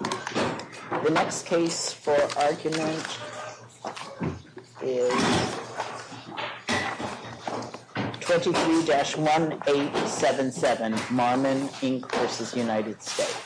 The next case for argument is 23-1877, Marmen Inc. v. United States.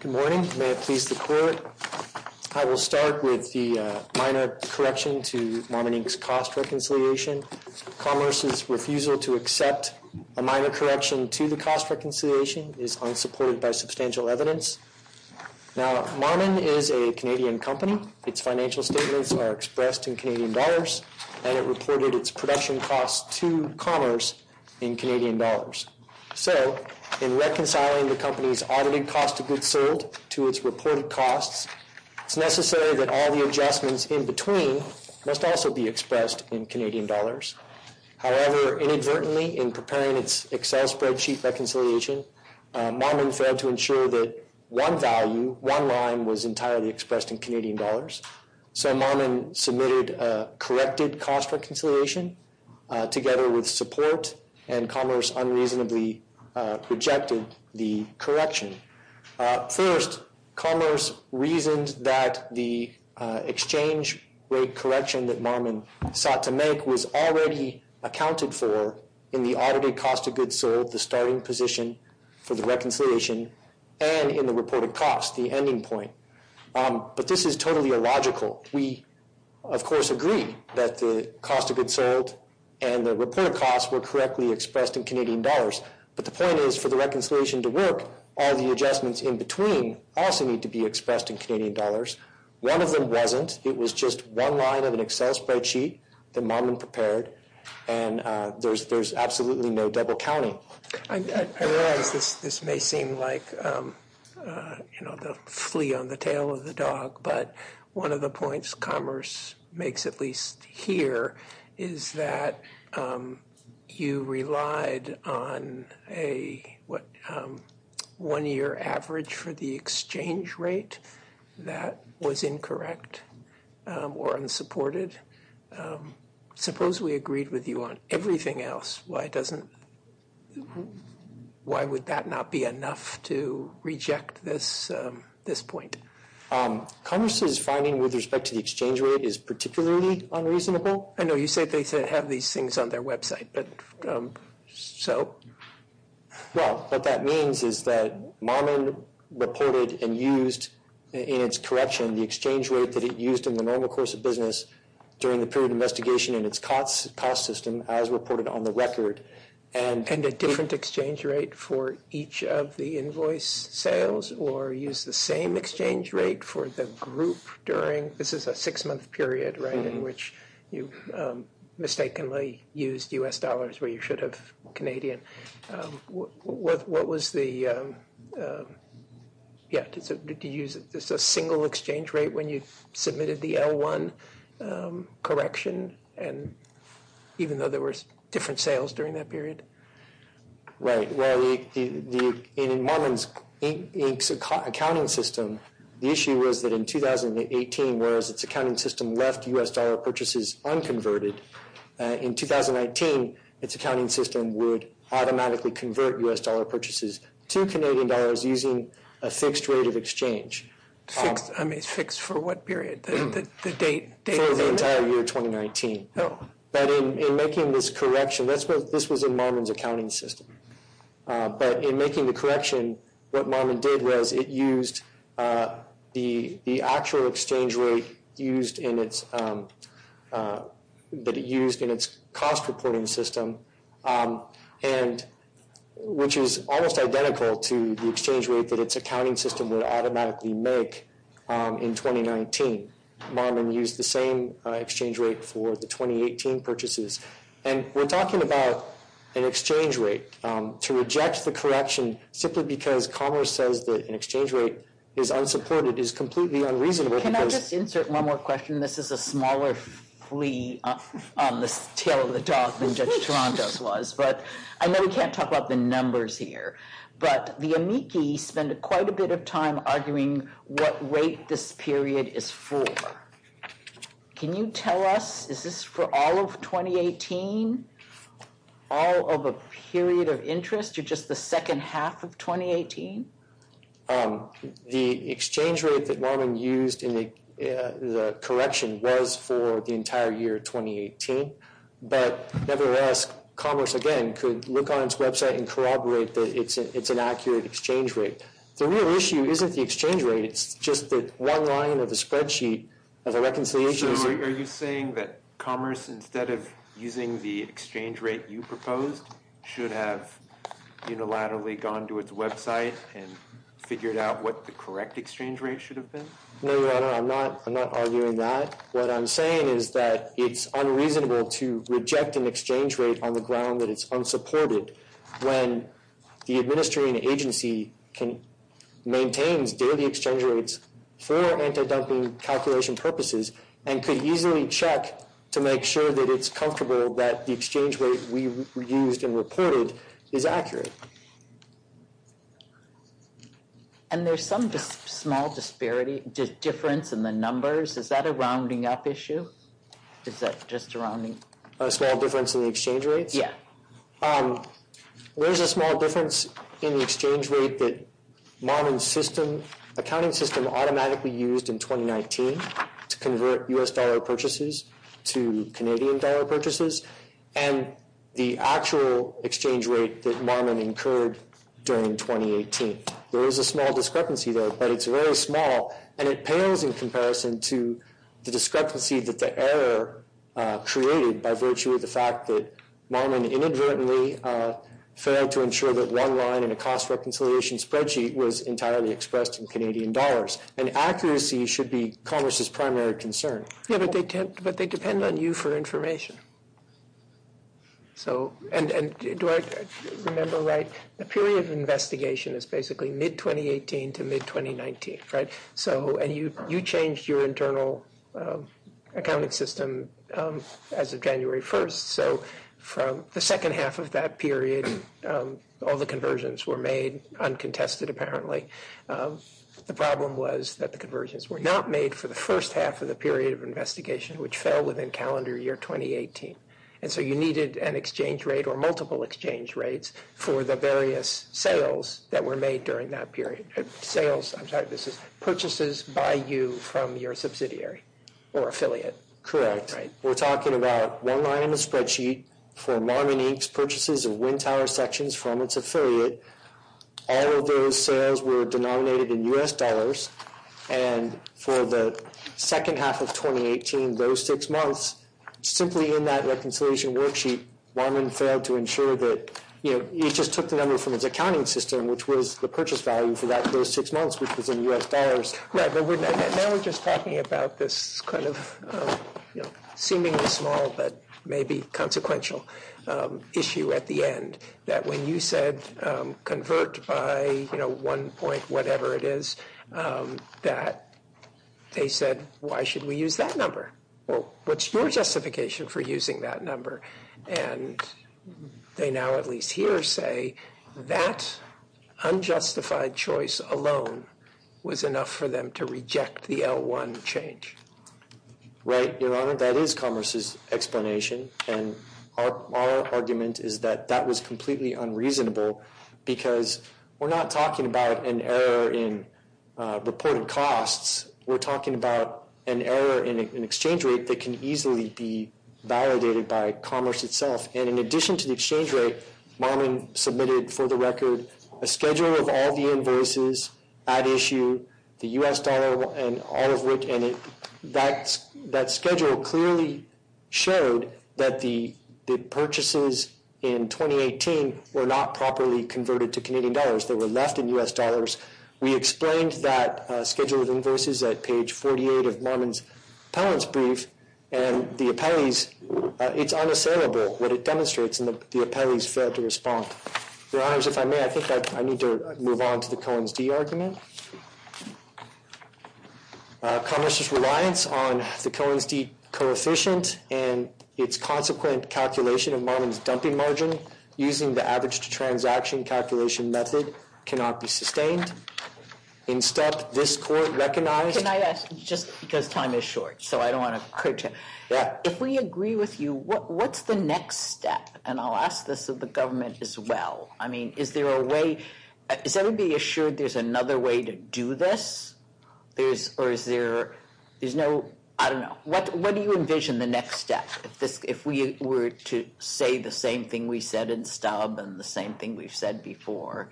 Good morning. May it please the Court, I will start with the minor correction to Marmen to accept a minor correction to the cost reconciliation is unsupported by substantial evidence. Now, Marmen is a Canadian company. Its financial statements are expressed in Canadian dollars and it reported its production costs to Commerce in Canadian dollars. So, in reconciling the company's audited cost of goods sold to its reported costs, it's necessary that all the adjustments in between must also be expressed in Canadian dollars. However, inadvertently, in preparing its Excel spreadsheet reconciliation, Marmen failed to ensure that one value, one line, was entirely expressed in Canadian dollars. So, Marmen submitted a corrected cost reconciliation together with support and Commerce unreasonably rejected the correction. First, Commerce reasoned that the exchange rate correction that Marmen sought to make was already accounted for in the audited cost of goods sold, the starting position for the reconciliation, and in the reported cost, the ending point. But this is totally illogical. We, of course, agree that the cost of goods sold and the reported costs were correctly expressed in Canadian dollars. But the point is, for the reconciliation to work, all the adjustments in between also need to be expressed in Canadian dollars. One of them wasn't. It was just one line of an Excel spreadsheet that Marmen prepared and there's absolutely no double counting. I realize this may seem like the flea on the tail of the dog, but one of the points Commerce makes, at least here, is that you relied on a one-year average for the exchange rate that was incorrect or unsupported. Suppose we agreed with you on everything else. Why would that not be enough to reject this point? Commerce's finding with respect to the exchange rate is particularly unreasonable. I know you say they have these things on their website, but so? Well, what that means is that Marmen reported and used in its correction the exchange rate that it used in the normal course of business during the period of investigation in its cost system as reported on the record. And a different exchange rate for each of the invoice sales or use the same exchange rate for the group during – this is a six-month period, right, in which you mistakenly used U.S. dollars where you should have Canadian. What was the – yeah, did you use just a single exchange rate when you submitted the L1 correction? And even though there were different sales during that period? Right. Well, in Marmen's accounting system, the issue was that in 2018, whereas its accounting system left U.S. dollar purchases unconverted, in 2019, its accounting system would automatically convert U.S. dollar purchases to Canadian dollars using a fixed rate of exchange. Fixed for what period? The date? For the entire year 2019. But in making this correction, this was in Marmen's accounting system. But in making the correction, what Marmen did was it used the actual exchange rate used in its – that it used in its cost reporting system, and which is almost identical to the exchange rate that its accounting system would automatically make in 2019. Marmen used the same exchange rate for the 2018 purchases. And we're talking about an exchange rate. To reject the correction simply because Commerce says that an exchange rate is unsupported is completely unreasonable. Can I just insert one more question? This is a smaller flea on the tail of the dog than Judge Torontos was. But I know we can't talk about the numbers here, but the amici spend quite a bit of time arguing what rate this period is for. Can you tell us, is this for all of 2018? All of a period of interest, or just the second half of 2018? The exchange rate that Marmen used in the correction was for the entire year 2018. But nevertheless, Commerce, again, could look on its website and corroborate that it's an accurate exchange rate. The real issue isn't the exchange rate. It's just that one line of the spreadsheet of the reconciliation is – So are you saying that Commerce, instead of using the exchange rate you proposed, should have unilaterally gone to its website and figured out what the correct exchange rate should have been? No, Your Honor, I'm not arguing that. What I'm saying is that it's unreasonable to reject an exchange rate on the ground that it's unsupported when the administering agency maintains daily exchange rates for anti-dumping calculation purposes and could easily check to make sure that it's comfortable that the exchange rate we used and reported is accurate. And there's some small disparity, difference in the numbers. Is that a rounding up issue? Is that just a rounding? A small difference in the exchange rates? There's a small difference in the exchange rate that Marmen's accounting system automatically used in 2019 to convert U.S. dollar purchases to Canadian dollar purchases and the actual exchange rate that Marmen incurred during 2018. There is a small discrepancy there, but it's very small, and it pales in comparison to the discrepancy that the error created by virtue of the fact that Marmen inadvertently failed to ensure that one line in a cost reconciliation spreadsheet was entirely expressed in Canadian dollars. And accuracy should be Commerce's primary concern. Yeah, but they depend on you for information. And do I remember right? The period of investigation is basically mid-2018 to mid-2019, right? And you changed your internal accounting system as of January 1st, so from the second half of that period, all the conversions were made uncontested, apparently. The problem was that the conversions were not made for the first half of the period of investigation, which fell within calendar year 2018. And so you needed an exchange rate or multiple exchange rates for the various sales that were made during that period. I'm sorry, this is purchases by you from your subsidiary or affiliate. Correct. We're talking about one line in the spreadsheet for Marmen Inc.'s purchases of wind tower sections from its affiliate. All of those sales were denominated in U.S. dollars. And for the second half of 2018, those six months, simply in that reconciliation worksheet, Marmen failed to ensure that he just took the number from his accounting system, which was the purchase value for those six months, which was in U.S. dollars. Right, but now we're just talking about this seemingly small but maybe consequential issue at the end, that when you said convert by, you know, one point, whatever it is, that they said, why should we use that number? Well, what's your justification for using that number? And they now, at least here, say that unjustified choice alone was enough for them to reject the L1 change. Right, Your Honor, that is Commerce's explanation. And our argument is that that was completely unreasonable because we're not talking about an error in reported costs. We're talking about an error in an exchange rate that can easily be validated by Commerce itself. And in addition to the exchange rate, Marmen submitted, for the record, a schedule of all the invoices at issue, the U.S. dollar and all of which, and that schedule clearly showed that the purchases in 2018 were not properly converted to Canadian dollars. They were left in U.S. dollars. We explained that schedule of invoices at page 48 of Marmen's appellant's brief, and the appellees, it's unassailable, what it demonstrates, and the appellees failed Your Honors, if I may, I think I need to move on to the Cohen's d argument. Commerce's reliance on the Cohen's d coefficient and its consequent calculation of Marmen's dumping margin, using the average transaction calculation method, cannot be sustained. In step, this court recognized... Can I ask, just because time is short, so I don't want to... Yeah. If we agree with you, what's the next step? And I'll ask this of the government as well. I mean, is there a way... Is everybody assured there's another way to do this? There's... Or is there... There's no... I don't know. What do you envision the next step? If we were to say the same thing we said in stub and the same thing we've said before,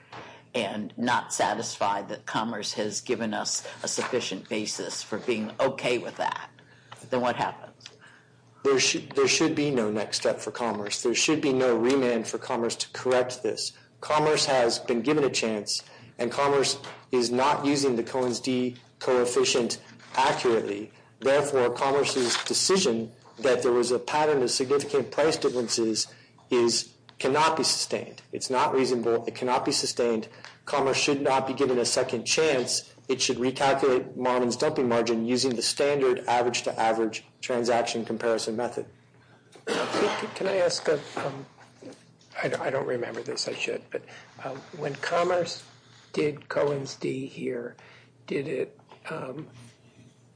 and not satisfied that commerce has given us a sufficient basis for being okay with that, then what happens? There should be no next step for commerce. There should be no remand for commerce to correct this. Commerce has been given a chance, and commerce is not using the Cohen's d coefficient accurately. Therefore, commerce's decision that there was a pattern of significant price differences is... cannot be sustained. It's not reasonable. It cannot be sustained. Commerce should not be given a second chance. It should recalculate Marmen's dumping margin using the standard average-to-average transaction comparison method. Can I ask a... I don't remember this. I should. But when commerce did Cohen's d here, did it,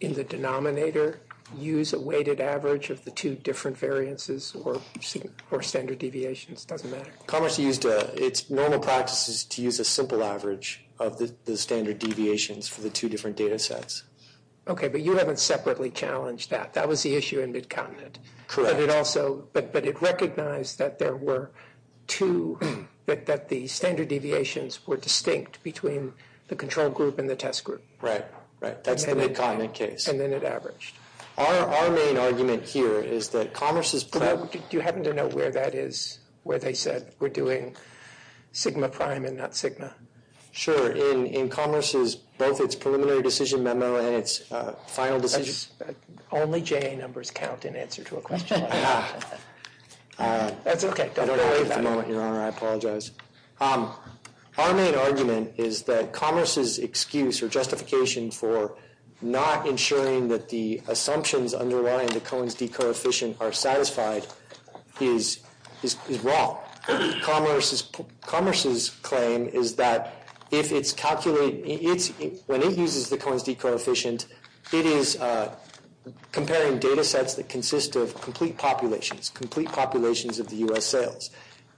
in the denominator, use a weighted average of the two different variances or standard deviations? Doesn't matter. Commerce used... Its normal practice is to use a simple average of the standard deviations for the two different data sets. Okay, but you haven't separately challenged that. That was the issue in MidContinent. Correct. But it also... But it recognized that there were two... that the standard deviations were distinct between the control group and the test group. Right, right. That's the MidContinent case. And then it averaged. Our main argument here is that commerce's... Do you happen to know where that is, where they said we're doing sigma prime and not sigma? Sure. In commerce's... both its preliminary decision memo and its final decision... Only J.A. numbers count in answer to a question. That's okay. Don't worry about it. I don't have it at the moment, Your Honor. I apologize. Our main argument is that commerce's excuse or justification for not ensuring that the assumptions underlying the Cohen's d coefficient are satisfied is wrong. Commerce's claim is that if it's calculated... When it uses the Cohen's d coefficient, it is comparing data sets that consist of complete populations, complete populations of the U.S. sales.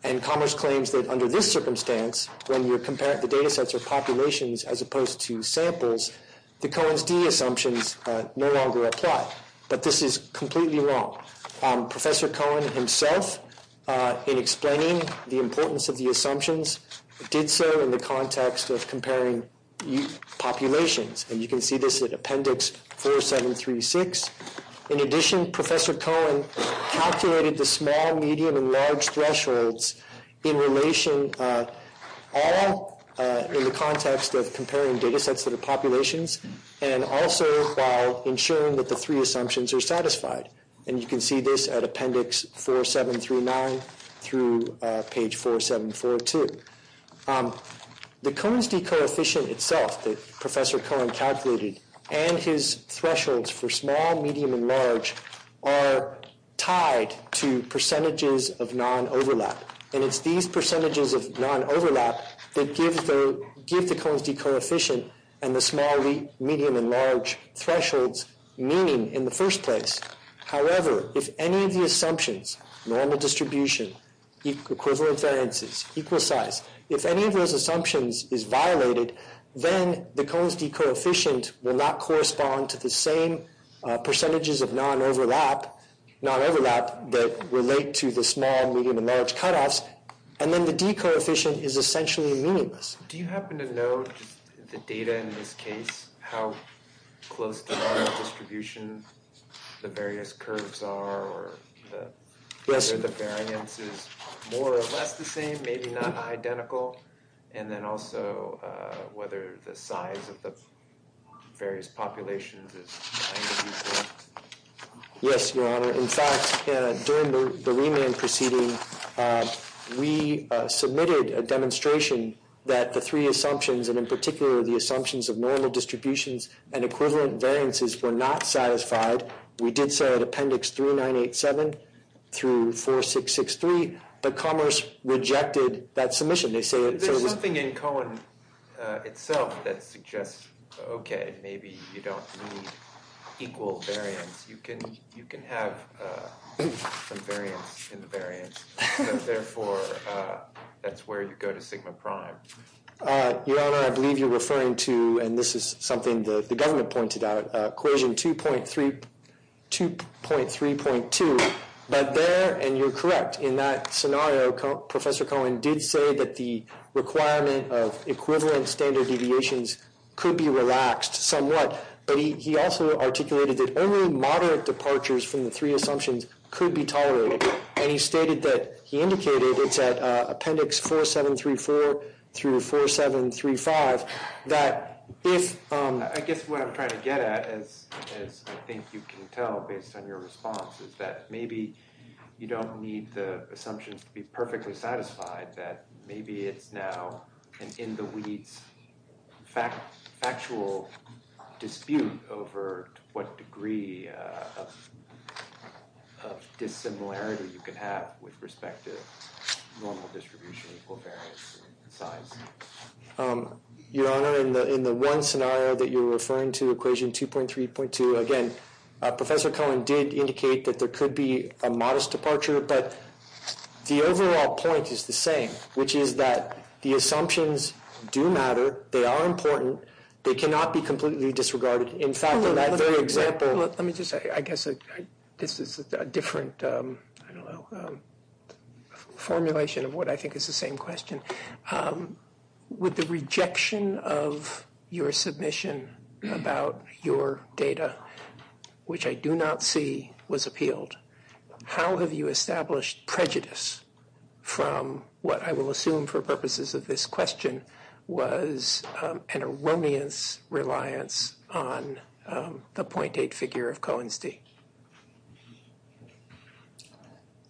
And commerce claims that under this circumstance, when you compare the data sets or populations as opposed to samples, the Cohen's d assumptions no longer apply. But this is completely wrong. Professor Cohen himself, in explaining the importance of the assumptions, did so in the context of comparing populations. And you can see this in Appendix 4736. In addition, Professor Cohen calculated the small, medium, and large thresholds in relation... All in the context of comparing data sets that are populations and also while ensuring that the three assumptions are satisfied. And you can see this at Appendix 4739 through page 4742. The Cohen's d coefficient itself that Professor Cohen calculated and his thresholds for small, medium, and large are tied to percentages of non-overlap. And it's these percentages of non-overlap that give the Cohen's d coefficient and the small, medium, and large thresholds meaning in the first place. However, if any of the assumptions, normal distribution, equivalent variances, equal size, if any of those assumptions is violated, then the Cohen's d coefficient will not correspond to the same percentages of non-overlap that relate to the small, medium, and large cutoffs. And then the d coefficient is essentially meaningless. Do you happen to know the data in this case, how close to normal distribution the various curves are or whether the variance is more or less the same, maybe not identical? And then also whether the size of the various populations is... Yes, Your Honor. In fact, during the remand proceeding, we submitted a demonstration that the three assumptions, and in particular, the assumptions of normal distributions and equivalent variances were not satisfied. We did so at Appendix 3987 through 4663, but Commerce rejected that submission. There's something in Cohen itself that suggests, okay, maybe you don't need equal variance. You can have some variance in the variance, but therefore, that's where you go to sigma prime. Your Honor, I believe you're referring to, and this is something the government pointed out, equation 2.3.2. But there, and you're correct, in that scenario, Professor Cohen did say that the requirement of equivalent standard deviations could be relaxed somewhat. But he also articulated that only moderate departures from the three assumptions could be tolerated. And he stated that, he indicated, it's at Appendix 4734 through 4735, that if... I guess what I'm trying to get at, as I think you can tell based on your response, is that maybe you don't need the assumptions to be perfectly satisfied, that maybe it's now an in-the-wheats factual dispute over what degree of dissimilarity you can have with respect to normal distribution, equal variance, and size. Your Honor, in the one scenario that you're referring to, equation 2.3.2, again, Professor Cohen did indicate that there could be a modest departure, but the overall point is the same, which is that the assumptions do matter, they are important, they cannot be completely disregarded. In fact, in that very example... Let me just say, I guess this is a different formulation of what I think is the same question. With the rejection of your submission about your data, which I do not see was appealed, how have you established prejudice from what I will assume for purposes of this question was an erroneous reliance on the point date figure of Cohen's date?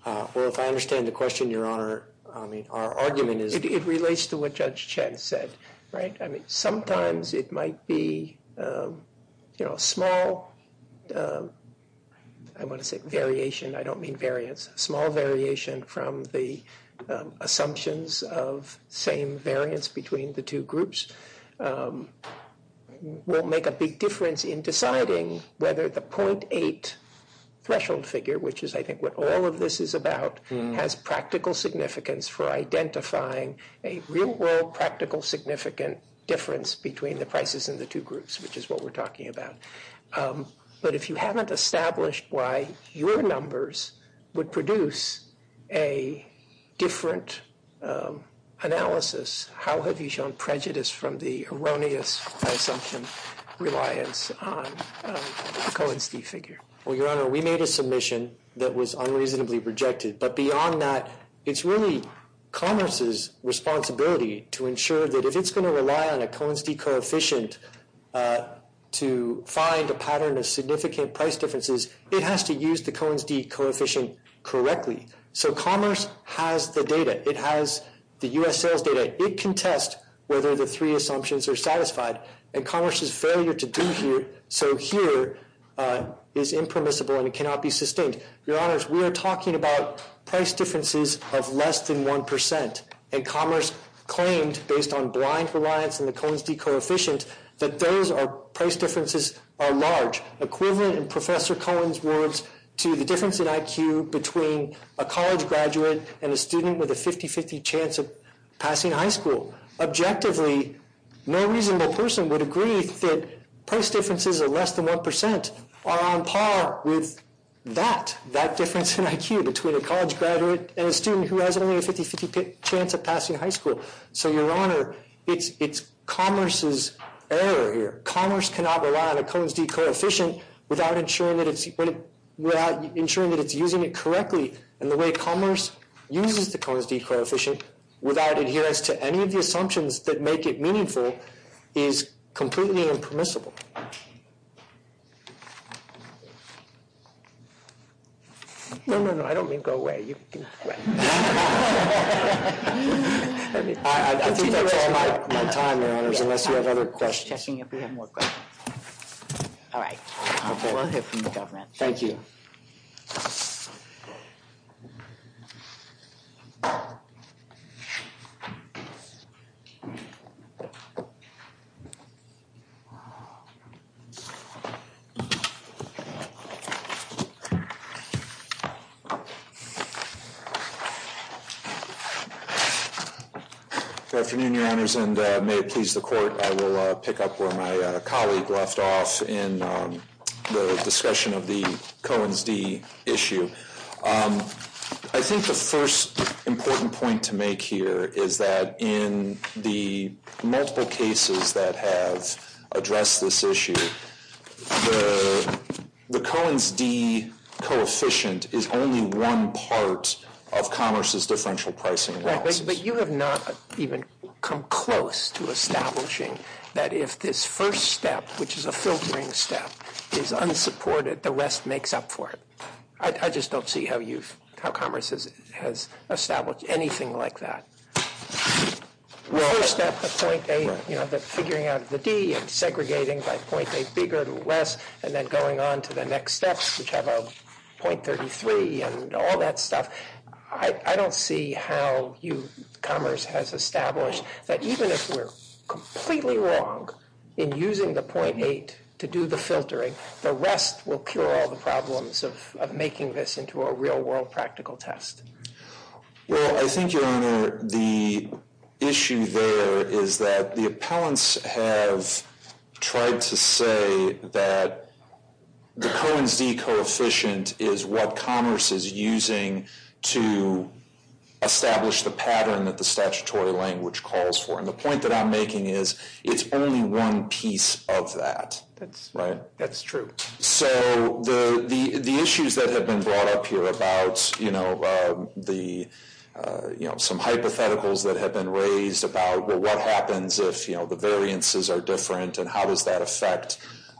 Well, if I understand the question, Your Honor, I mean, our argument is... It relates to what Judge Chen said, right? I mean, sometimes it might be, you know, small, I want to say variation, I don't mean variance, small variation from the assumptions of same variance between the two groups won't make a big difference in deciding whether the 0.8 threshold figure, which is I think what all of this is about, has practical significance for identifying a real-world practical significant difference between the prices in the two groups, which is what we're talking about. But if you haven't established why your numbers would produce a different analysis, how have you shown prejudice from the erroneous assumption reliance on Cohen's date figure? Well, Your Honor, we made a submission that was unreasonably rejected, but beyond that, it's really commerce's responsibility to ensure that if it's going to rely on a Cohen's date coefficient to find a pattern of significant price differences, it has to use the Cohen's date coefficient correctly. So commerce has the data. It has the U.S. sales data. It can test whether the three assumptions are satisfied, and commerce's failure to do here, so here, is impermissible and it cannot be sustained. Your Honors, we are talking about price differences of less than 1%, and commerce claimed, based on blind reliance on the Cohen's date coefficient, that those price differences are large, equivalent in Professor Cohen's words to the difference in IQ between a college graduate and a student with a 50-50 chance of passing high school. Objectively, no reasonable person would agree that price differences of less than 1% are on par with that, that difference in IQ between a college graduate and a student who has only a 50-50 chance of passing high school. So, Your Honor, it's commerce's error here. Commerce cannot rely on a Cohen's date coefficient without ensuring that it's using it correctly, and the way commerce uses the Cohen's date coefficient without adherence to any of the assumptions that make it meaningful is completely impermissible. No, no, no, I don't mean go away. I think that's all my time, Your Honors, unless you have other questions. All right, we'll hear from the government. Thank you. Good afternoon, Your Honors, and may it please the Court, I will pick up where my colleague left off in the discussion of the Cohen's d issue. I think the first important point to make here is that in the multiple cases that have addressed this issue, the Cohen's d coefficient is only one part of commerce's differential pricing. Right, but you have not even come close to establishing that if this first step, which is a filtering step, is unsupported, the rest makes up for it. I just don't see how commerce has established anything like that. The first step of figuring out the d and segregating by 0.8 bigger or less, and then going on to the next steps, which have a 0.33 and all that stuff. I don't see how commerce has established that even if we're completely wrong in using the 0.8 to do the filtering, the rest will cure all the problems of making this into a real-world practical test. Well, I think, Your Honor, the issue there is that the appellants have tried to say that the Cohen's d coefficient is what commerce is using to establish the pattern that the statutory language calls for. And the point that I'm making is it's only one piece of that. That's true. So the issues that have been brought up here about some hypotheticals that have been raised about what happens if the variances are different and how does that affect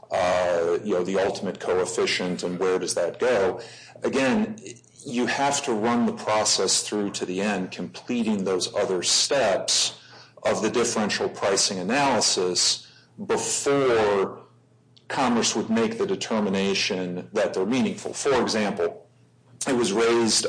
the ultimate coefficient and where does that go? Again, you have to run the process through to the end, completing those other steps of the differential pricing analysis before commerce would make the determination that they're meaningful. For example, it was raised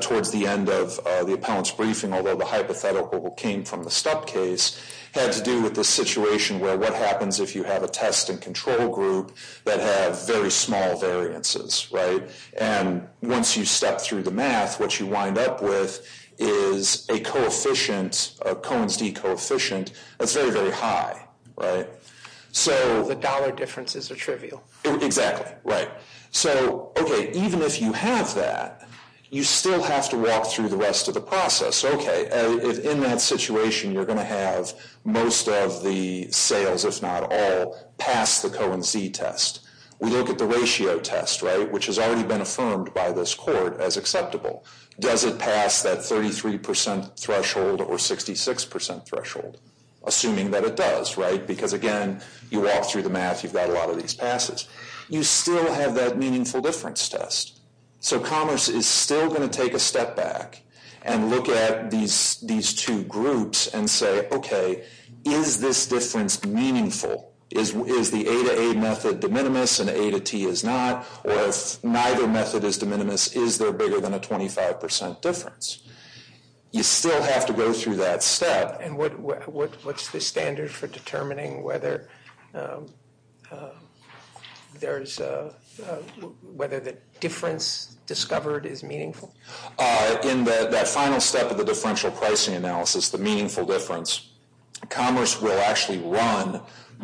towards the end of the appellants' briefing, although the hypothetical that came from the Stuck case had to do with the situation where what happens if you have a test and control group that have very small variances, right? And once you step through the math, what you wind up with is a coefficient, a Cohen's d coefficient that's very, very high, right? The dollar differences are trivial. Exactly, right. So, okay, even if you have that, you still have to walk through the rest of the process. Okay, in that situation, you're going to have most of the sales, if not all, pass the Cohen's d test. We look at the ratio test, right, which has already been affirmed by this court as acceptable. Does it pass that 33% threshold or 66% threshold, assuming that it does, right? Because, again, you walk through the math. You've got a lot of these passes. You still have that meaningful difference test. So commerce is still going to take a step back and look at these two groups and say, okay, is this difference meaningful? Is the A to A method de minimis and A to T is not? Or if neither method is de minimis, is there bigger than a 25% difference? You still have to go through that step. And what's the standard for determining whether the difference discovered is meaningful? In that final step of the differential pricing analysis, the meaningful difference, commerce will actually run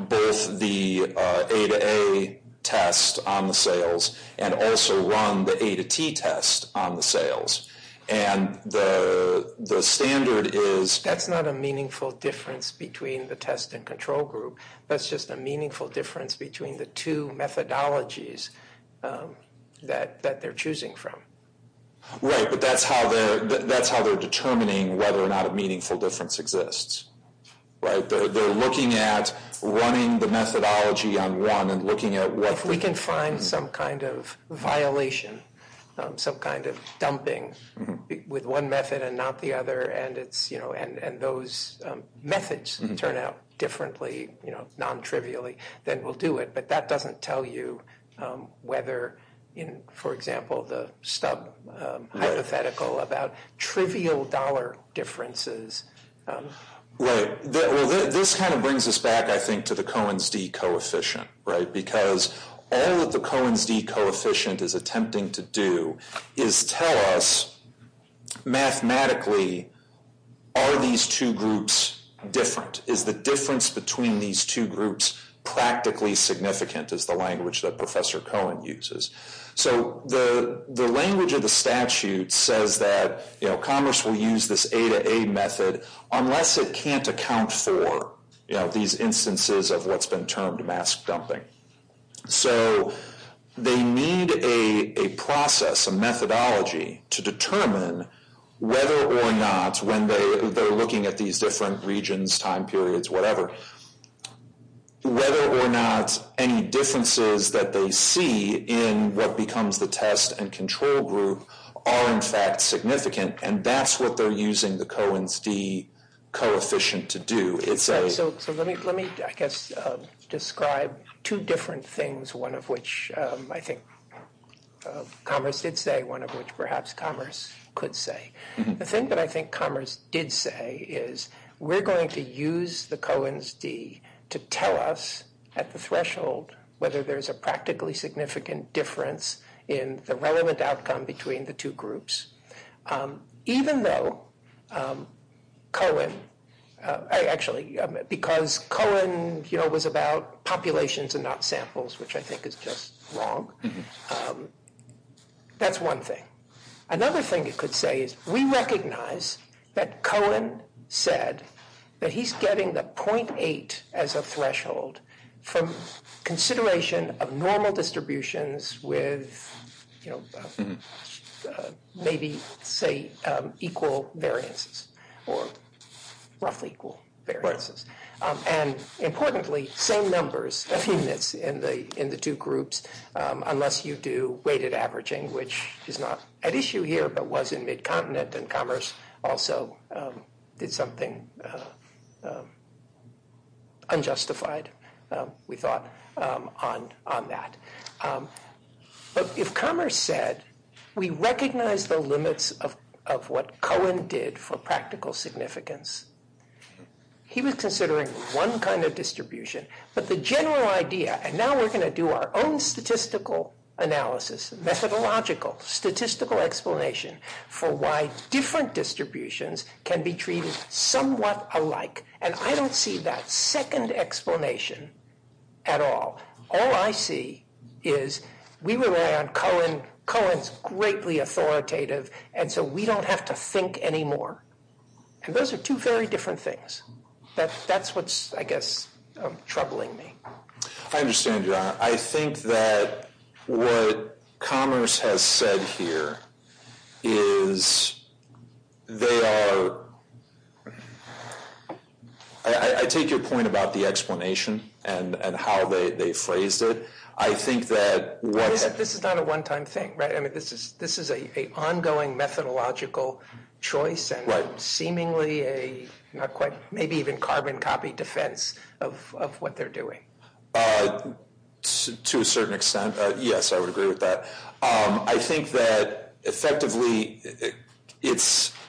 both the A to A test on the sales and also run the A to T test on the sales. And the standard is... That's not a meaningful difference between the test and control group. That's just a meaningful difference between the two methodologies that they're choosing from. Right, but that's how they're determining whether or not a meaningful difference exists, right? They're looking at running the methodology on one and looking at what... If we can find some kind of violation, some kind of dumping with one method and not the other, and those methods turn out differently, non-trivially, then we'll do it. But that doesn't tell you whether, for example, the stub hypothetical about trivial dollar differences... Right. Well, this kind of brings us back, I think, to the Cohen's d coefficient, right? Because all that the Cohen's d coefficient is attempting to do is tell us, mathematically, are these two groups different? Is the difference between these two groups practically significant is the language that Professor Cohen uses. So the language of the statute says that commerce will use this A to A method unless it can't account for these instances of what's been termed mask dumping. So they need a process, a methodology, to determine whether or not, when they're looking at these different regions, time periods, whatever, whether or not any differences that they see in what becomes the test and control group are, in fact, significant. And that's what they're using the Cohen's d coefficient to do. So let me, I guess, describe two different things, one of which I think commerce did say, and one of which perhaps commerce could say. The thing that I think commerce did say is we're going to use the Cohen's d to tell us, at the threshold, whether there's a practically significant difference in the relevant outcome between the two groups. Even though Cohen... Actually, because Cohen was about populations and not samples, which I think is just wrong. That's one thing. Another thing it could say is we recognize that Cohen said that he's getting the 0.8 as a threshold from consideration of normal distributions with maybe, say, equal variances or roughly equal variances. And importantly, same numbers of units in the two groups unless you do weighted averaging, which is not at issue here but was in mid-continent. And commerce also did something unjustified, we thought, on that. But if commerce said we recognize the limits of what Cohen did for practical significance, he was considering one kind of distribution. But the general idea, and now we're going to do our own statistical analysis, methodological, statistical explanation for why different distributions can be treated somewhat alike. And I don't see that second explanation at all. All I see is we rely on Cohen, Cohen's greatly authoritative, and so we don't have to think anymore. And those are two very different things. That's what's, I guess, troubling me. I understand, John. I think that what commerce has said here is they are – I take your point about the explanation and how they phrased it. I think that what – This is not a one-time thing, right? This is an ongoing methodological choice and seemingly a not quite – maybe even carbon copy defense of what they're doing. To a certain extent, yes, I would agree with that. I think that effectively it's –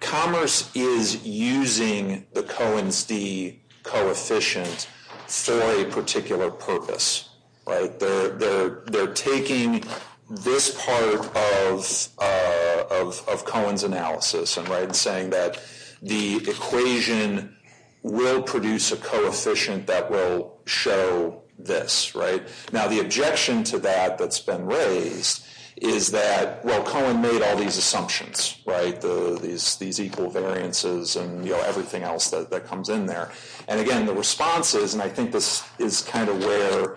commerce is using the Cohen's d coefficient for a particular purpose. They're taking this part of Cohen's analysis and saying that the equation will produce a coefficient that will show this. Now, the objection to that that's been raised is that, well, Cohen made all these assumptions, these equal variances and everything else that comes in there. And, again, the response is, and I think this is kind of where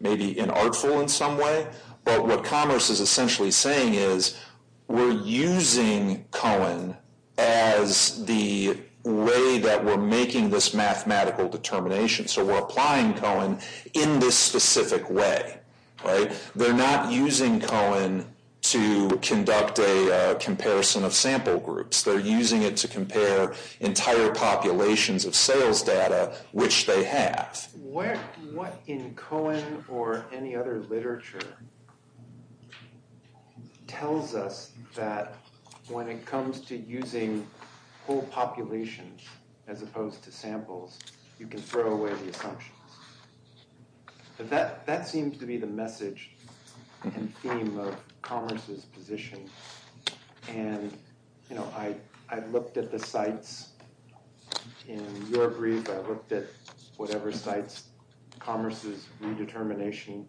maybe inartful in some way, but what commerce is essentially saying is we're using Cohen as the way that we're making this mathematical determination. So we're applying Cohen in this specific way. They're not using Cohen to conduct a comparison of sample groups. They're using it to compare entire populations of sales data, which they have. What in Cohen or any other literature tells us that when it comes to using whole populations as opposed to samples, you can throw away the assumptions? That seems to be the message and theme of commerce's position. And, you know, I looked at the sites in your brief. I looked at whatever sites commerce's redetermination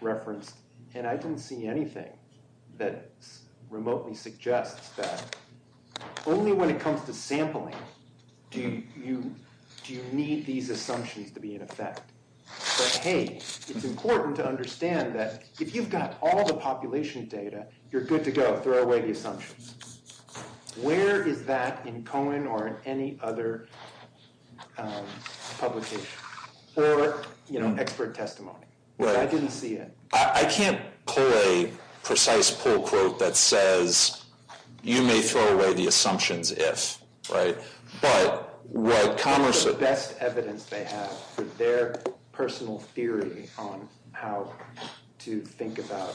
referenced, and I didn't see anything that remotely suggests that only when it comes to sampling do you need these assumptions to be in effect. But, hey, it's important to understand that if you've got all the population data, you're good to go. Throw away the assumptions. Where is that in Cohen or in any other publication or, you know, expert testimony? I didn't see it. I can't pull a precise pull quote that says you may throw away the assumptions if, right? The best evidence they have for their personal theory on how to think about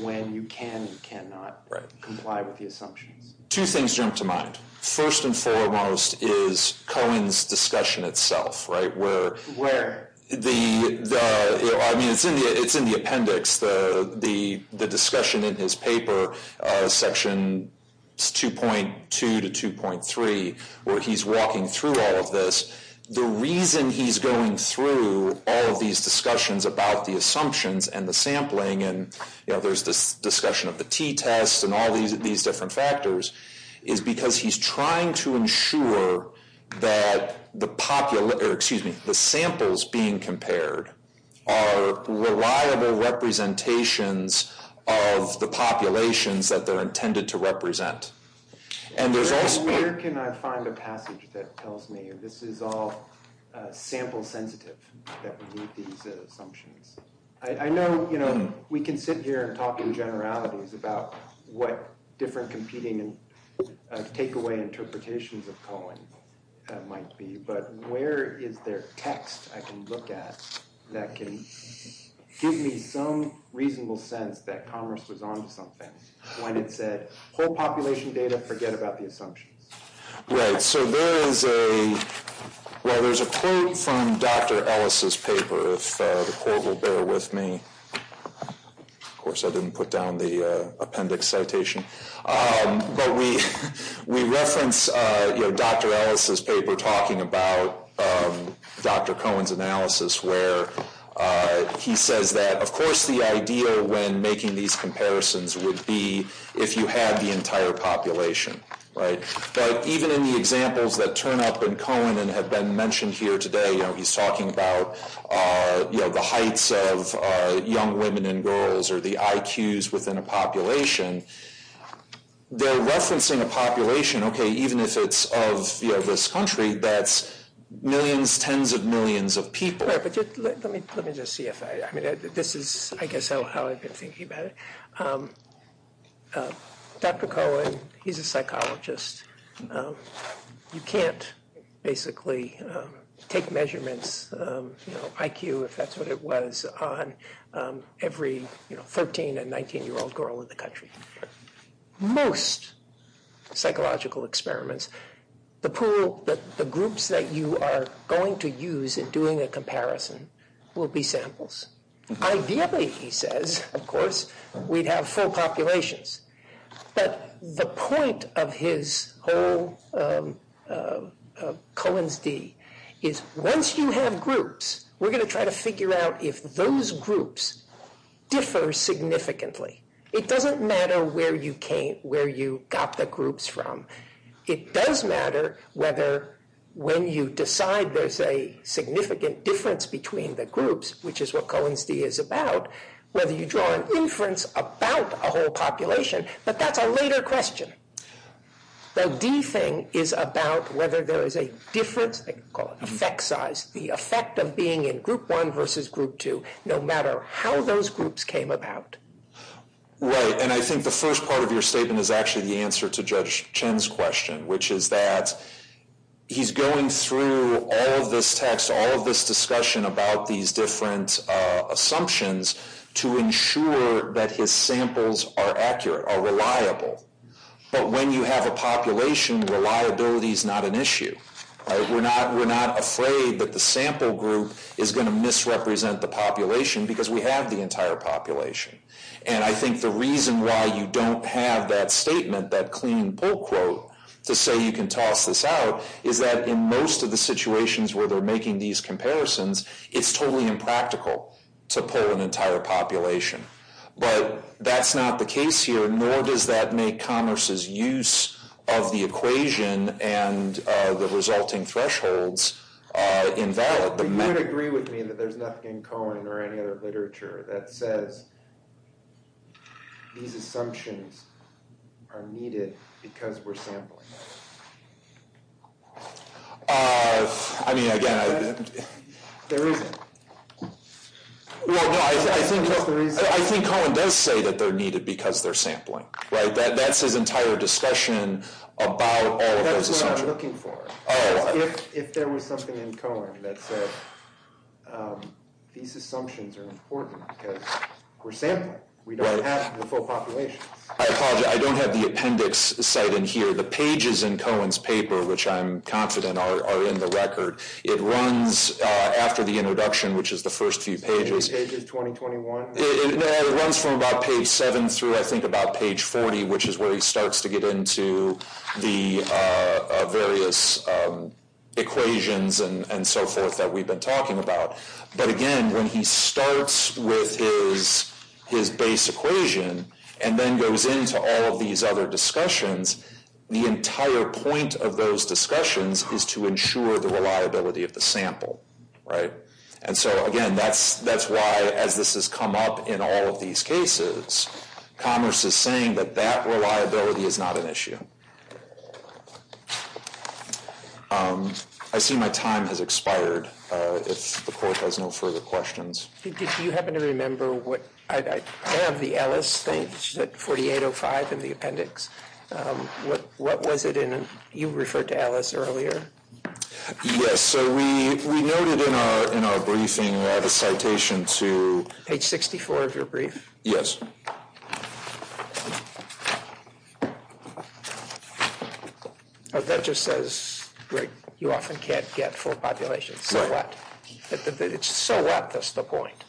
when you can and cannot comply with the assumptions. Two things jump to mind. First and foremost is Cohen's discussion itself, right? Where? I mean, it's in the appendix, the discussion in his paper, Section 2.2 to 2.3, where he's walking through all of this. The reason he's going through all of these discussions about the assumptions and the sampling, and, you know, there's this discussion of the t-tests and all these different factors, is because he's trying to ensure that the samples being compared are reliable representations of the populations that they're intended to represent. And there's also— Where can I find a passage that tells me this is all sample-sensitive, that we need these assumptions? I know, you know, we can sit here and talk in generalities about what different competing and takeaway interpretations of Cohen might be, but where is there text I can look at that can give me some reasonable sense that Congress was on to something when it said, whole population data, forget about the assumptions? Right, so there is a—well, there's a quote from Dr. Ellis's paper, if the quote will bear with me. Of course, I didn't put down the appendix citation. But we reference, you know, Dr. Ellis's paper talking about Dr. Cohen's analysis, where he says that, of course, the idea when making these comparisons would be if you had the entire population, right? But even in the examples that turn up in Cohen and have been mentioned here today, you know, he's talking about, you know, the heights of young women and girls or the IQs within a population. They're referencing a population, okay, even if it's of, you know, this country, that's millions, tens of millions of people. But let me just see if I—I mean, this is, I guess, how I've been thinking about it. Dr. Cohen, he's a psychologist. You can't basically take measurements, you know, IQ, if that's what it was, on every, you know, 13- and 19-year-old girl in the country. Most psychological experiments, the pool, the groups that you are going to use in doing a comparison will be samples. Ideally, he says, of course, we'd have full populations. But the point of his whole—Cohen's D—is once you have groups, we're going to try to figure out if those groups differ significantly. It doesn't matter where you came—where you got the groups from. It does matter whether when you decide there's a significant difference between the groups, which is what Cohen's D is about, whether you draw an inference about a whole population. But that's a later question. The D thing is about whether there is a difference, they call it effect size, the effect of being in group one versus group two, no matter how those groups came about. Right, and I think the first part of your statement is actually the answer to Judge Chen's question, which is that he's going through all of this text, all of this discussion about these different assumptions to ensure that his samples are accurate, are reliable. But when you have a population, reliability is not an issue. We're not afraid that the sample group is going to misrepresent the population because we have the entire population. And I think the reason why you don't have that statement, that clean pull quote, to say you can toss this out is that in most of the situations where they're making these comparisons, it's totally impractical to pull an entire population. But that's not the case here, nor does that make Commerce's use of the equation and the resulting thresholds invalid. But you would agree with me that there's nothing in Cohen or any other literature that says these assumptions are needed because we're sampling them. I mean, again... There isn't. I think Cohen does say that they're needed because they're sampling. That's his entire discussion about all of those assumptions. That's what I'm looking for. If there was something in Cohen that said these assumptions are important because we're sampling. We don't have the full population. I apologize. I don't have the appendix cited here. The pages in Cohen's paper, which I'm confident are in the record, it runs after the introduction, which is the first few pages. The first few pages, 2021? No, it runs from about page 7 through, I think, about page 40, which is where he starts to get into the various equations and so forth that we've been talking about. But again, when he starts with his base equation and then goes into all of these other discussions, the entire point of those discussions is to ensure the reliability of the sample, right? And so, again, that's why, as this has come up in all of these cases, Commerce is saying that that reliability is not an issue. I see my time has expired. If the Court has no further questions... Do you happen to remember what... I have the Ellis thing. It's at 4805 in the appendix. What was it in... You referred to Ellis earlier. Yes, so we noted in our briefing, we have a citation to... Page 64 of your brief? Yes. Oh, that just says, right, you often can't get full populations. It's so wet, that's the point.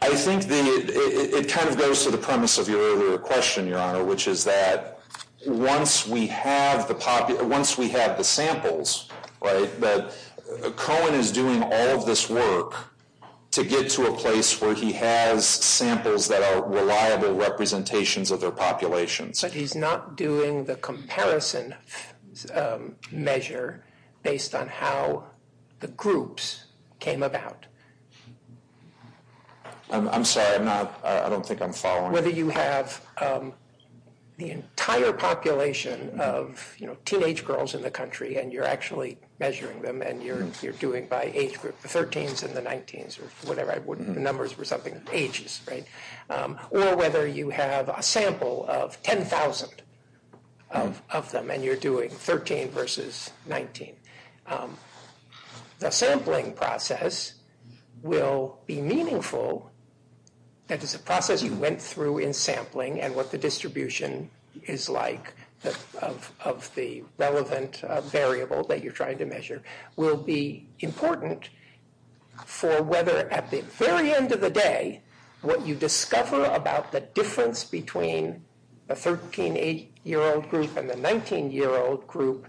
I think it kind of goes to the premise of your earlier question, Your Honor, which is that once we have the samples, right, Cohen is doing all of this work to get to a place where he has samples that are reliable representations of their populations. But he's not doing the comparison measure based on how the groups came about. I'm sorry, I'm not... I don't think I'm following. Whether you have the entire population of, you know, teenage girls in the country and you're actually measuring them and you're doing by age group, the 13s and the 19s or whatever, I wouldn't... The numbers were something ages, right? Or whether you have a sample of 10,000 of them and you're doing 13 versus 19. The sampling process will be meaningful. That is a process you went through in sampling and what the distribution is like of the relevant variable that you're trying to measure will be important for whether at the very end of the day, what you discover about the difference between a 13, 8-year-old group and a 19-year-old group,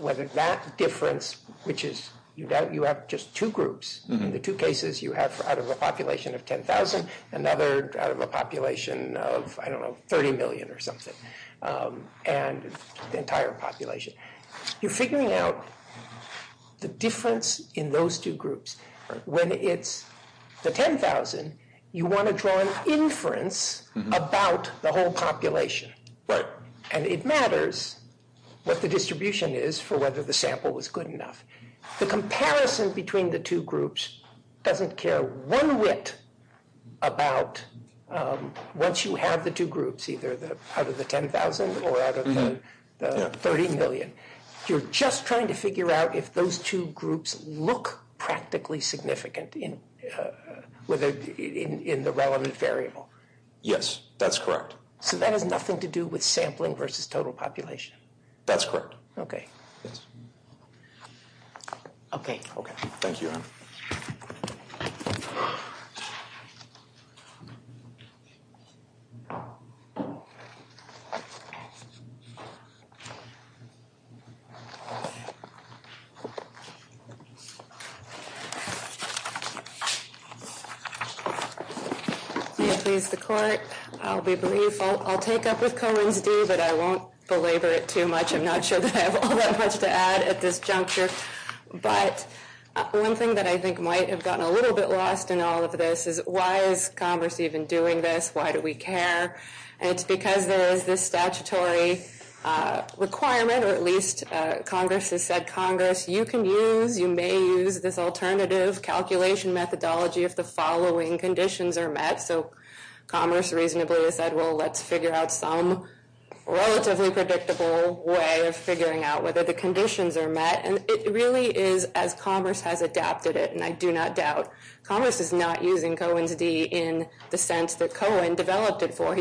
whether that difference, which is that you have just two groups, the two cases you have out of a population of 10,000, another out of a population of, I don't know, 30 million or something, and the entire population. You're figuring out the difference in those two groups. When it's the 10,000, you want to draw an inference about the whole population. And it matters what the distribution is for whether the sample was good enough. The comparison between the two groups doesn't care one whit about... Once you have the two groups, either out of the 10,000 or out of the 30 million, you're just trying to figure out if those two groups look practically significant in the relevant variable. Yes, that's correct. So that has nothing to do with sampling versus total population. That's correct. Okay. Okay. Thank you. May it please the Court. I'll be brief. I'll take up with Cohen's due, but I won't belabor it too much. I'm not sure that I have all that much to add at this juncture. But one thing that I think might have gotten a little bit lost in all of this is why is Congress even doing this? Why do we care? And it's because there is this statutory requirement, or at least Congress has said, Congress, you can use, you may use this alternative calculation methodology if the following conditions are met. So Commerce reasonably has said, well, let's figure out some relatively predictable way of figuring out whether the conditions are met. And it really is as Commerce has adapted it, and I do not doubt. Commerce is not using Cohen's due in the sense that Cohen developed it for.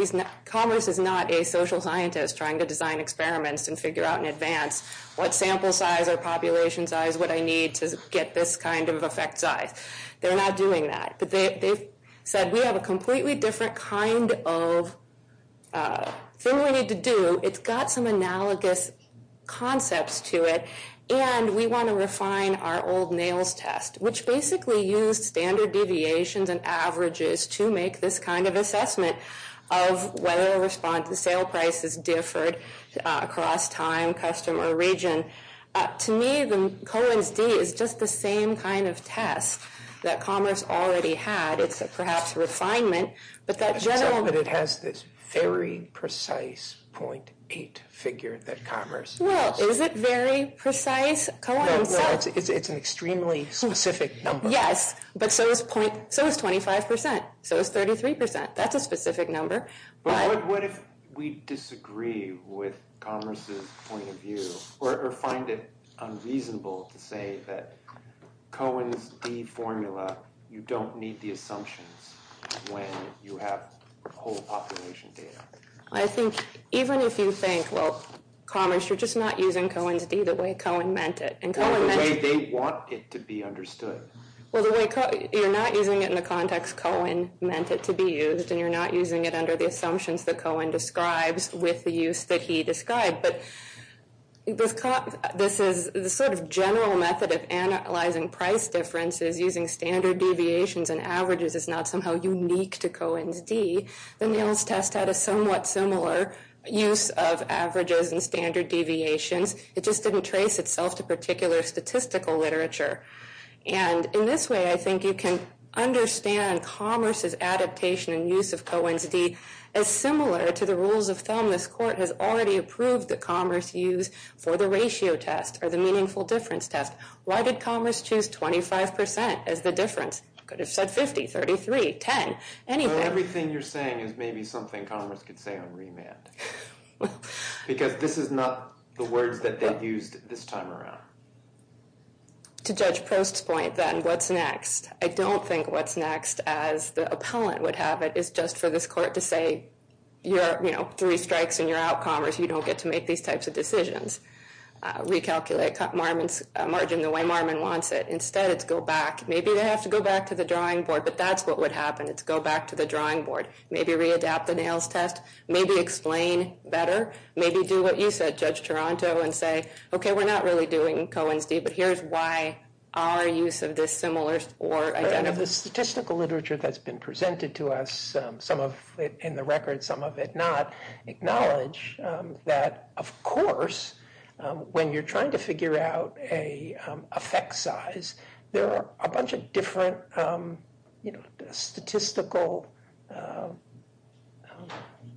Commerce is not a social scientist trying to design experiments and figure out in advance what sample size or population size would I need to get this kind of effect size. They're not doing that. But they've said we have a completely different kind of thing we need to do. It's got some analogous concepts to it. And we want to refine our old NAILS test, which basically used standard deviations and averages to make this kind of assessment of whether a response to sale prices differed across time, customer, or region. To me, Cohen's D is just the same kind of test that Commerce already had. It's perhaps a refinement, but that general. But it has this very precise 0.8 figure that Commerce has. Well, is it very precise? It's an extremely specific number. Yes, but so is 25%. So is 33%. That's a specific number. But what if we disagree with Commerce's point of view or find it unreasonable to say that Cohen's D formula, you don't need the assumptions when you have whole population data? I think even if you think, well, Commerce, you're just not using Cohen's D the way Cohen meant it. The way they want it to be understood. Well, you're not using it in the context Cohen meant it to be used, and you're not using it under the assumptions that Cohen describes with the use that he described. But this sort of general method of analyzing price differences using standard deviations and averages is not somehow unique to Cohen's D. The NAILS test had a somewhat similar use of averages and standard deviations. It just didn't trace itself to particular statistical literature. And in this way, I think you can understand Commerce's adaptation and use of Cohen's D as similar to the rules of thumb this court has already approved that Commerce use for the ratio test or the meaningful difference test. Why did Commerce choose 25% as the difference? They could have said 50, 33, 10, anything. Well, everything you're saying is maybe something Commerce could say on remand. Because this is not the words that they used this time around. To Judge Prost's point, then, what's next? I don't think what's next as the appellant would have it is just for this court to say, you know, three strikes and you're out, Commerce. You don't get to make these types of decisions. Recalculate margin the way Marmon wants it. Instead, it's go back. Maybe they have to go back to the drawing board, but that's what would happen. It's go back to the drawing board. Maybe readapt the NAILS test. Maybe explain better. Maybe do what you said, Judge Taranto, and say, okay, we're not really doing Cohen's D, but here's why our use of this similar or identical... The statistical literature that's been presented to us, some of it in the record, some of it not, acknowledge that, of course, when you're trying to figure out a effect size, there are a bunch of different statistical...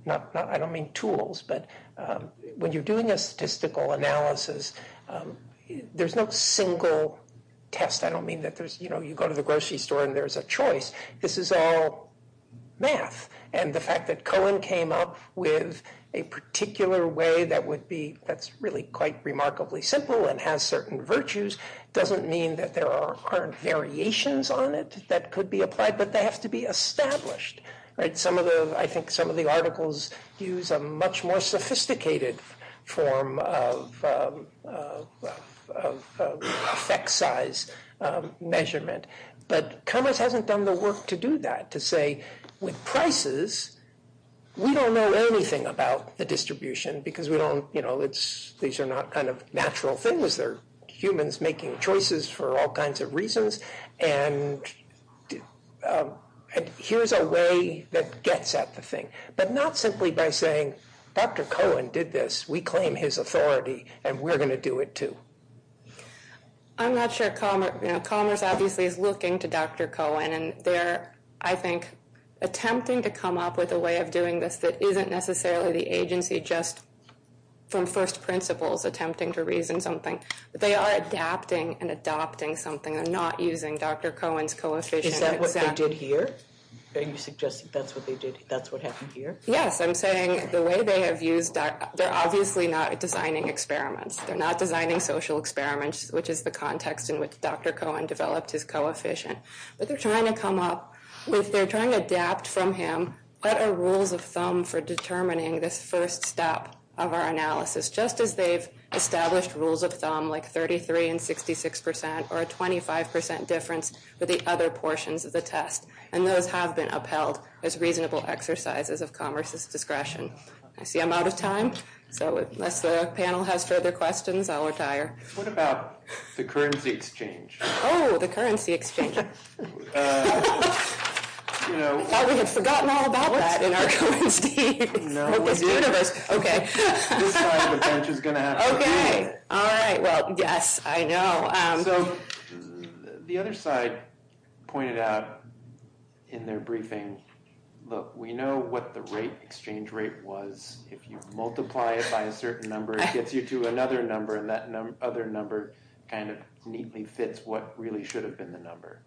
I don't mean tools, but when you're doing a statistical analysis, there's no single test. I don't mean that you go to the grocery store and there's a choice. This is all math, and the fact that Cohen came up with a particular way that's really quite remarkably simple and has certain virtues doesn't mean that there aren't variations on it that could be applied, but they have to be established. I think some of the articles use a much more sophisticated form of effect size measurement, but commerce hasn't done the work to do that, to say, with prices, we don't know anything about the distribution because these are not kind of natural things. They're humans making choices for all kinds of reasons, and here's a way that gets at the thing, but not simply by saying, Dr. Cohen did this, we claim his authority, and we're going to do it too. I'm not sure commerce... Commerce obviously is looking to Dr. Cohen, and they're, I think, attempting to come up with a way of doing this that isn't necessarily the agency, just from first principles, attempting to reason something. They are adapting and adopting something. They're not using Dr. Cohen's coefficient. Is that what they did here? Are you suggesting that's what happened here? Yes, I'm saying the way they have used... They're obviously not designing experiments. They're not designing social experiments, which is the context in which Dr. Cohen developed his coefficient, but they're trying to come up with... They're trying to adapt from him. What are rules of thumb for determining this first step of our analysis, just as they've established rules of thumb, like 33% and 66% or a 25% difference with the other portions of the test, and those have been upheld as reasonable exercises of commerce's discretion. I see I'm out of time, so unless the panel has further questions, I'll retire. What about the currency exchange? Oh, the currency exchange. I thought we had forgotten all about that in our currency... No, we didn't. Okay. This side of the bench is going to have to... Okay, all right, well, yes, I know. So the other side pointed out in their briefing, look, we know what the rate, exchange rate was. If you multiply it by a certain number, it gets you to another number, and that other number kind of neatly fits what really should have been the number.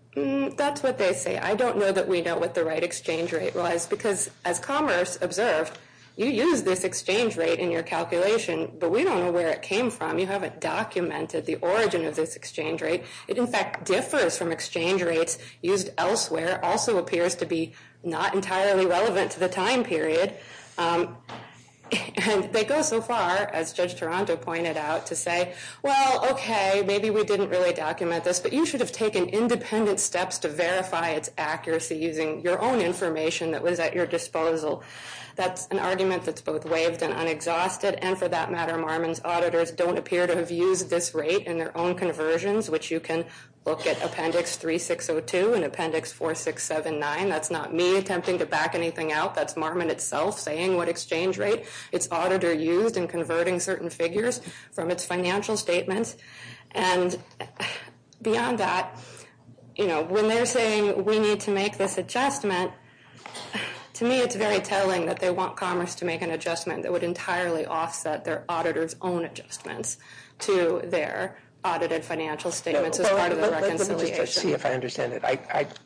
That's what they say. I don't know that we know what the right exchange rate was, because as commerce observed, you use this exchange rate in your calculation, but we don't know where it came from. You haven't documented the origin of this exchange rate. It, in fact, differs from exchange rates used elsewhere, also appears to be not entirely relevant to the time period. And they go so far, as Judge Toronto pointed out, to say, well, okay, maybe we didn't really document this, but you should have taken independent steps to verify its accuracy using your own information that was at your disposal. That's an argument that's both waived and unexhausted, and for that matter, Marmon's auditors don't appear to have used this rate in their own conversions, which you can look at Appendix 3602 and Appendix 4679. That's not me attempting to back anything out. That's Marmon itself saying what exchange rate its auditor used in converting certain figures from its financial statements. And beyond that, you know, when they're saying we need to make this adjustment, to me it's very telling that they want Commerce to make an adjustment that would entirely offset their auditor's own adjustments to their audited financial statements as part of the reconciliation. Let me just see if I understand it.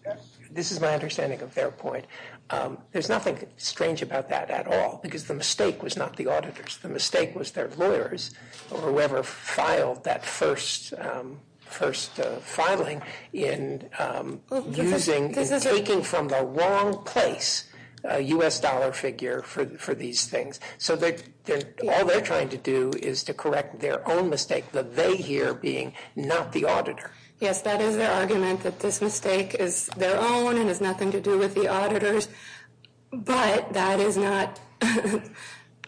This is my understanding of their point. There's nothing strange about that at all, because the mistake was not the auditors. The mistake was their lawyers or whoever filed that first filing in taking from the wrong place a U.S. dollar figure for these things. So all they're trying to do is to correct their own mistake, the they here being not the auditor. Yes, that is their argument, that this mistake is their own and has nothing to do with the auditors, but that is not,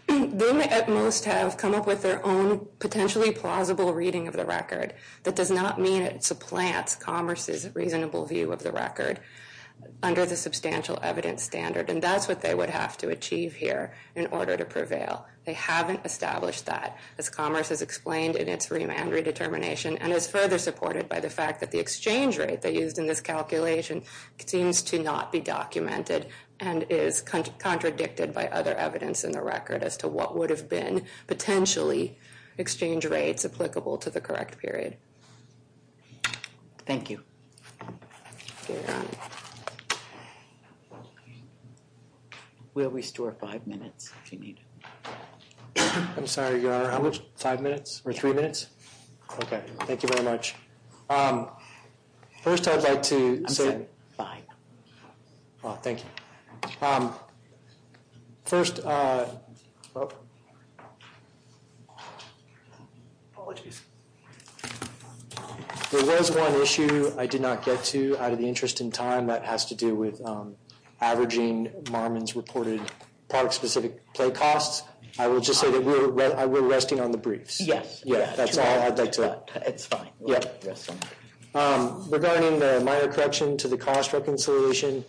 they at most have come up with their own potentially plausible reading of the record that does not mean it supplants Commerce's reasonable view of the record under the substantial evidence standard, and that's what they would have to achieve here in order to prevail. They haven't established that, as Commerce has explained in its remand redetermination and is further supported by the fact that the exchange rate they used in this calculation seems to not be documented and is contradicted by other evidence in the record as to what would have been potentially exchange rates applicable to the correct period. Thank you. We'll restore five minutes if you need it. I'm sorry, Your Honor, how much? Five minutes or three minutes? Okay, thank you very much. First, I'd like to say... Thank you. First... Apologies. There was one issue I did not get to out of the interest in time that has to do with averaging Marmon's reported product-specific play costs. I will just say that we're resting on the briefs. Yes. That's all I'd like to add. It's fine. Regarding the minor correction to the cost reconciliation,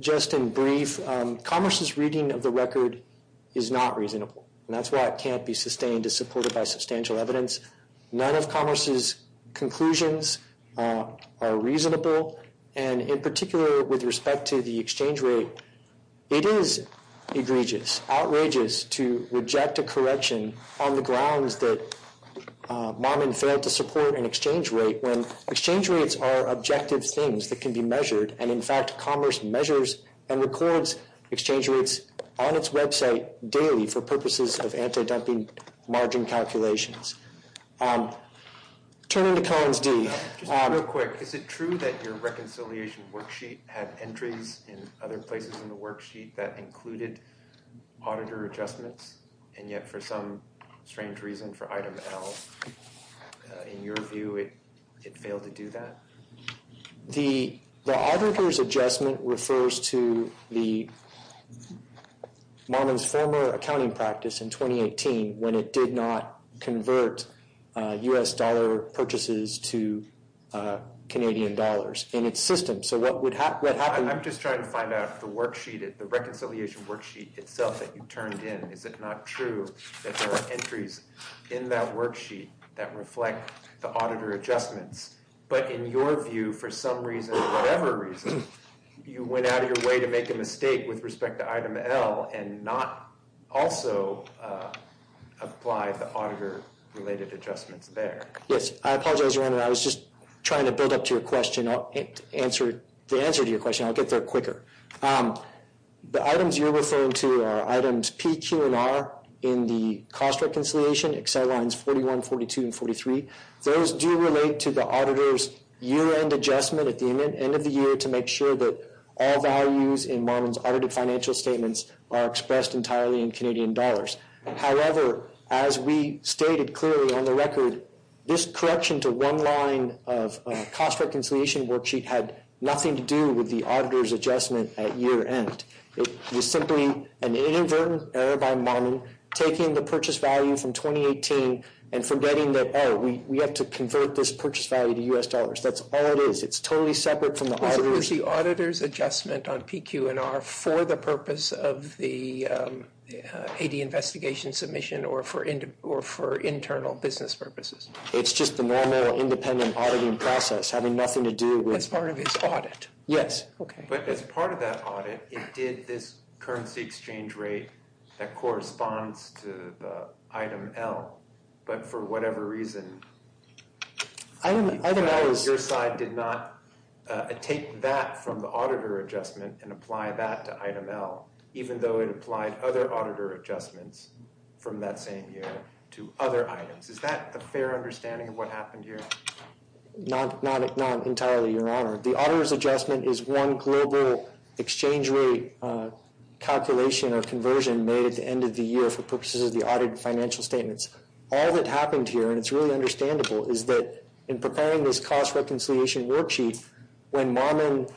just in brief, Commerce's reading of the record is not reasonable. That's why it can't be sustained as supported by substantial evidence. None of Commerce's conclusions are reasonable, and in particular with respect to the exchange rate, it is egregious, outrageous to reject a correction on the grounds that Marmon failed to support an exchange rate when exchange rates are objective things that can be measured, and in fact Commerce measures and records exchange rates on its website daily for purposes of anti-dumping margin calculations. Turning to Collins D. Just real quick, is it true that your reconciliation worksheet had entries in other places in the worksheet that included auditor adjustments, and yet for some strange reason for item L, in your view, it failed to do that? The auditor's adjustment refers to the Marmon's former accounting practice in 2018 when it did not convert U.S. dollar purchases to Canadian dollars in its system. So what happened... I'm just trying to find out if the worksheet, the reconciliation worksheet itself that you turned in, is it not true that there are entries in that worksheet that reflect the auditor adjustments, but in your view, for some reason, whatever reason, you went out of your way to make a mistake with respect to item L and not also apply the auditor-related adjustments there? Yes, I apologize, Your Honor. I was just trying to build up to your question, the answer to your question. I'll get there quicker. The items you're referring to are items P, Q, and R in the cost reconciliation, Excel lines 41, 42, and 43. Those do relate to the auditor's year-end adjustment at the end of the year to make sure that all values in Marmon's audited financial statements are expressed entirely in Canadian dollars. However, as we stated clearly on the record, this correction to one line of cost reconciliation worksheet had nothing to do with the auditor's adjustment at year-end. It was simply an inadvertent error by Marmon, taking the purchase value from 2018 and forgetting that, oh, we have to convert this purchase value to U.S. dollars. That's all it is. It's totally separate from the auditor's. Was it the auditor's adjustment on P, Q, and R for the purpose of the AD investigation submission or for internal business purposes? It's just the normal independent auditing process having nothing to do with- That's part of his audit. Yes. But as part of that audit, it did this currency exchange rate that corresponds to the item L. But for whatever reason- Item L is- Your side did not take that from the auditor adjustment and apply that to item L, even though it applied other auditor adjustments from that same year to other items. Is that a fair understanding of what happened here? Not entirely, Your Honor. The auditor's adjustment is one global exchange rate calculation or conversion made at the end of the year for purposes of the audit financial statements. All that happened here, and it's really understandable, is that in preparing this cost reconciliation worksheet, when Marmon-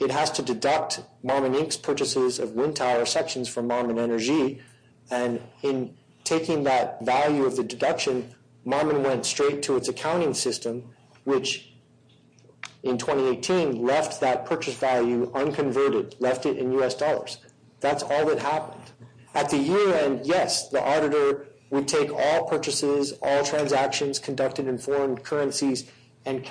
It has to deduct Marmon, Inc.'s purchases of wind tower sections from Marmon Energy. And in taking that value of the deduction, Marmon went straight to its accounting system, which in 2018 left that purchase value unconverted, left it in U.S. dollars. That's all that happened. At the year end, yes, the auditor would take all purchases, all transactions conducted in foreign currencies and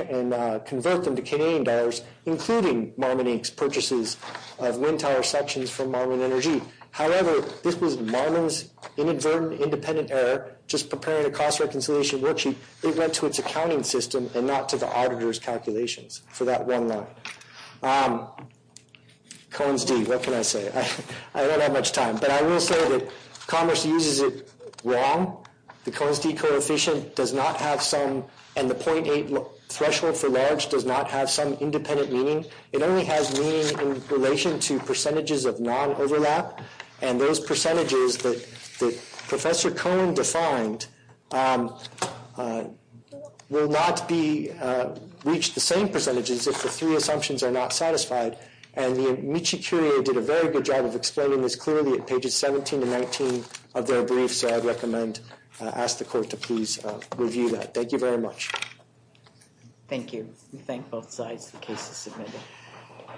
convert them to Canadian dollars, including Marmon, Inc.'s purchases of wind tower sections from Marmon Energy. However, this was Marmon's inadvertent independent error just preparing a cost reconciliation worksheet. It went to its accounting system and not to the auditor's calculations for that one line. Cohen's d, what can I say? I don't have much time. But I will say that Commerce uses it wrong. The Cohen's d coefficient does not have some- and the .8 threshold for large does not have some independent meaning. It only has meaning in relation to percentages of non-overlap. And those percentages that Professor Cohen defined will not reach the same percentages if the three assumptions are not satisfied. And the Michi Curie did a very good job of explaining this clearly at pages 17 to 19 of their brief. So I'd recommend, ask the court to please review that. Thank you very much. Thank you. We thank both sides for the cases submitted.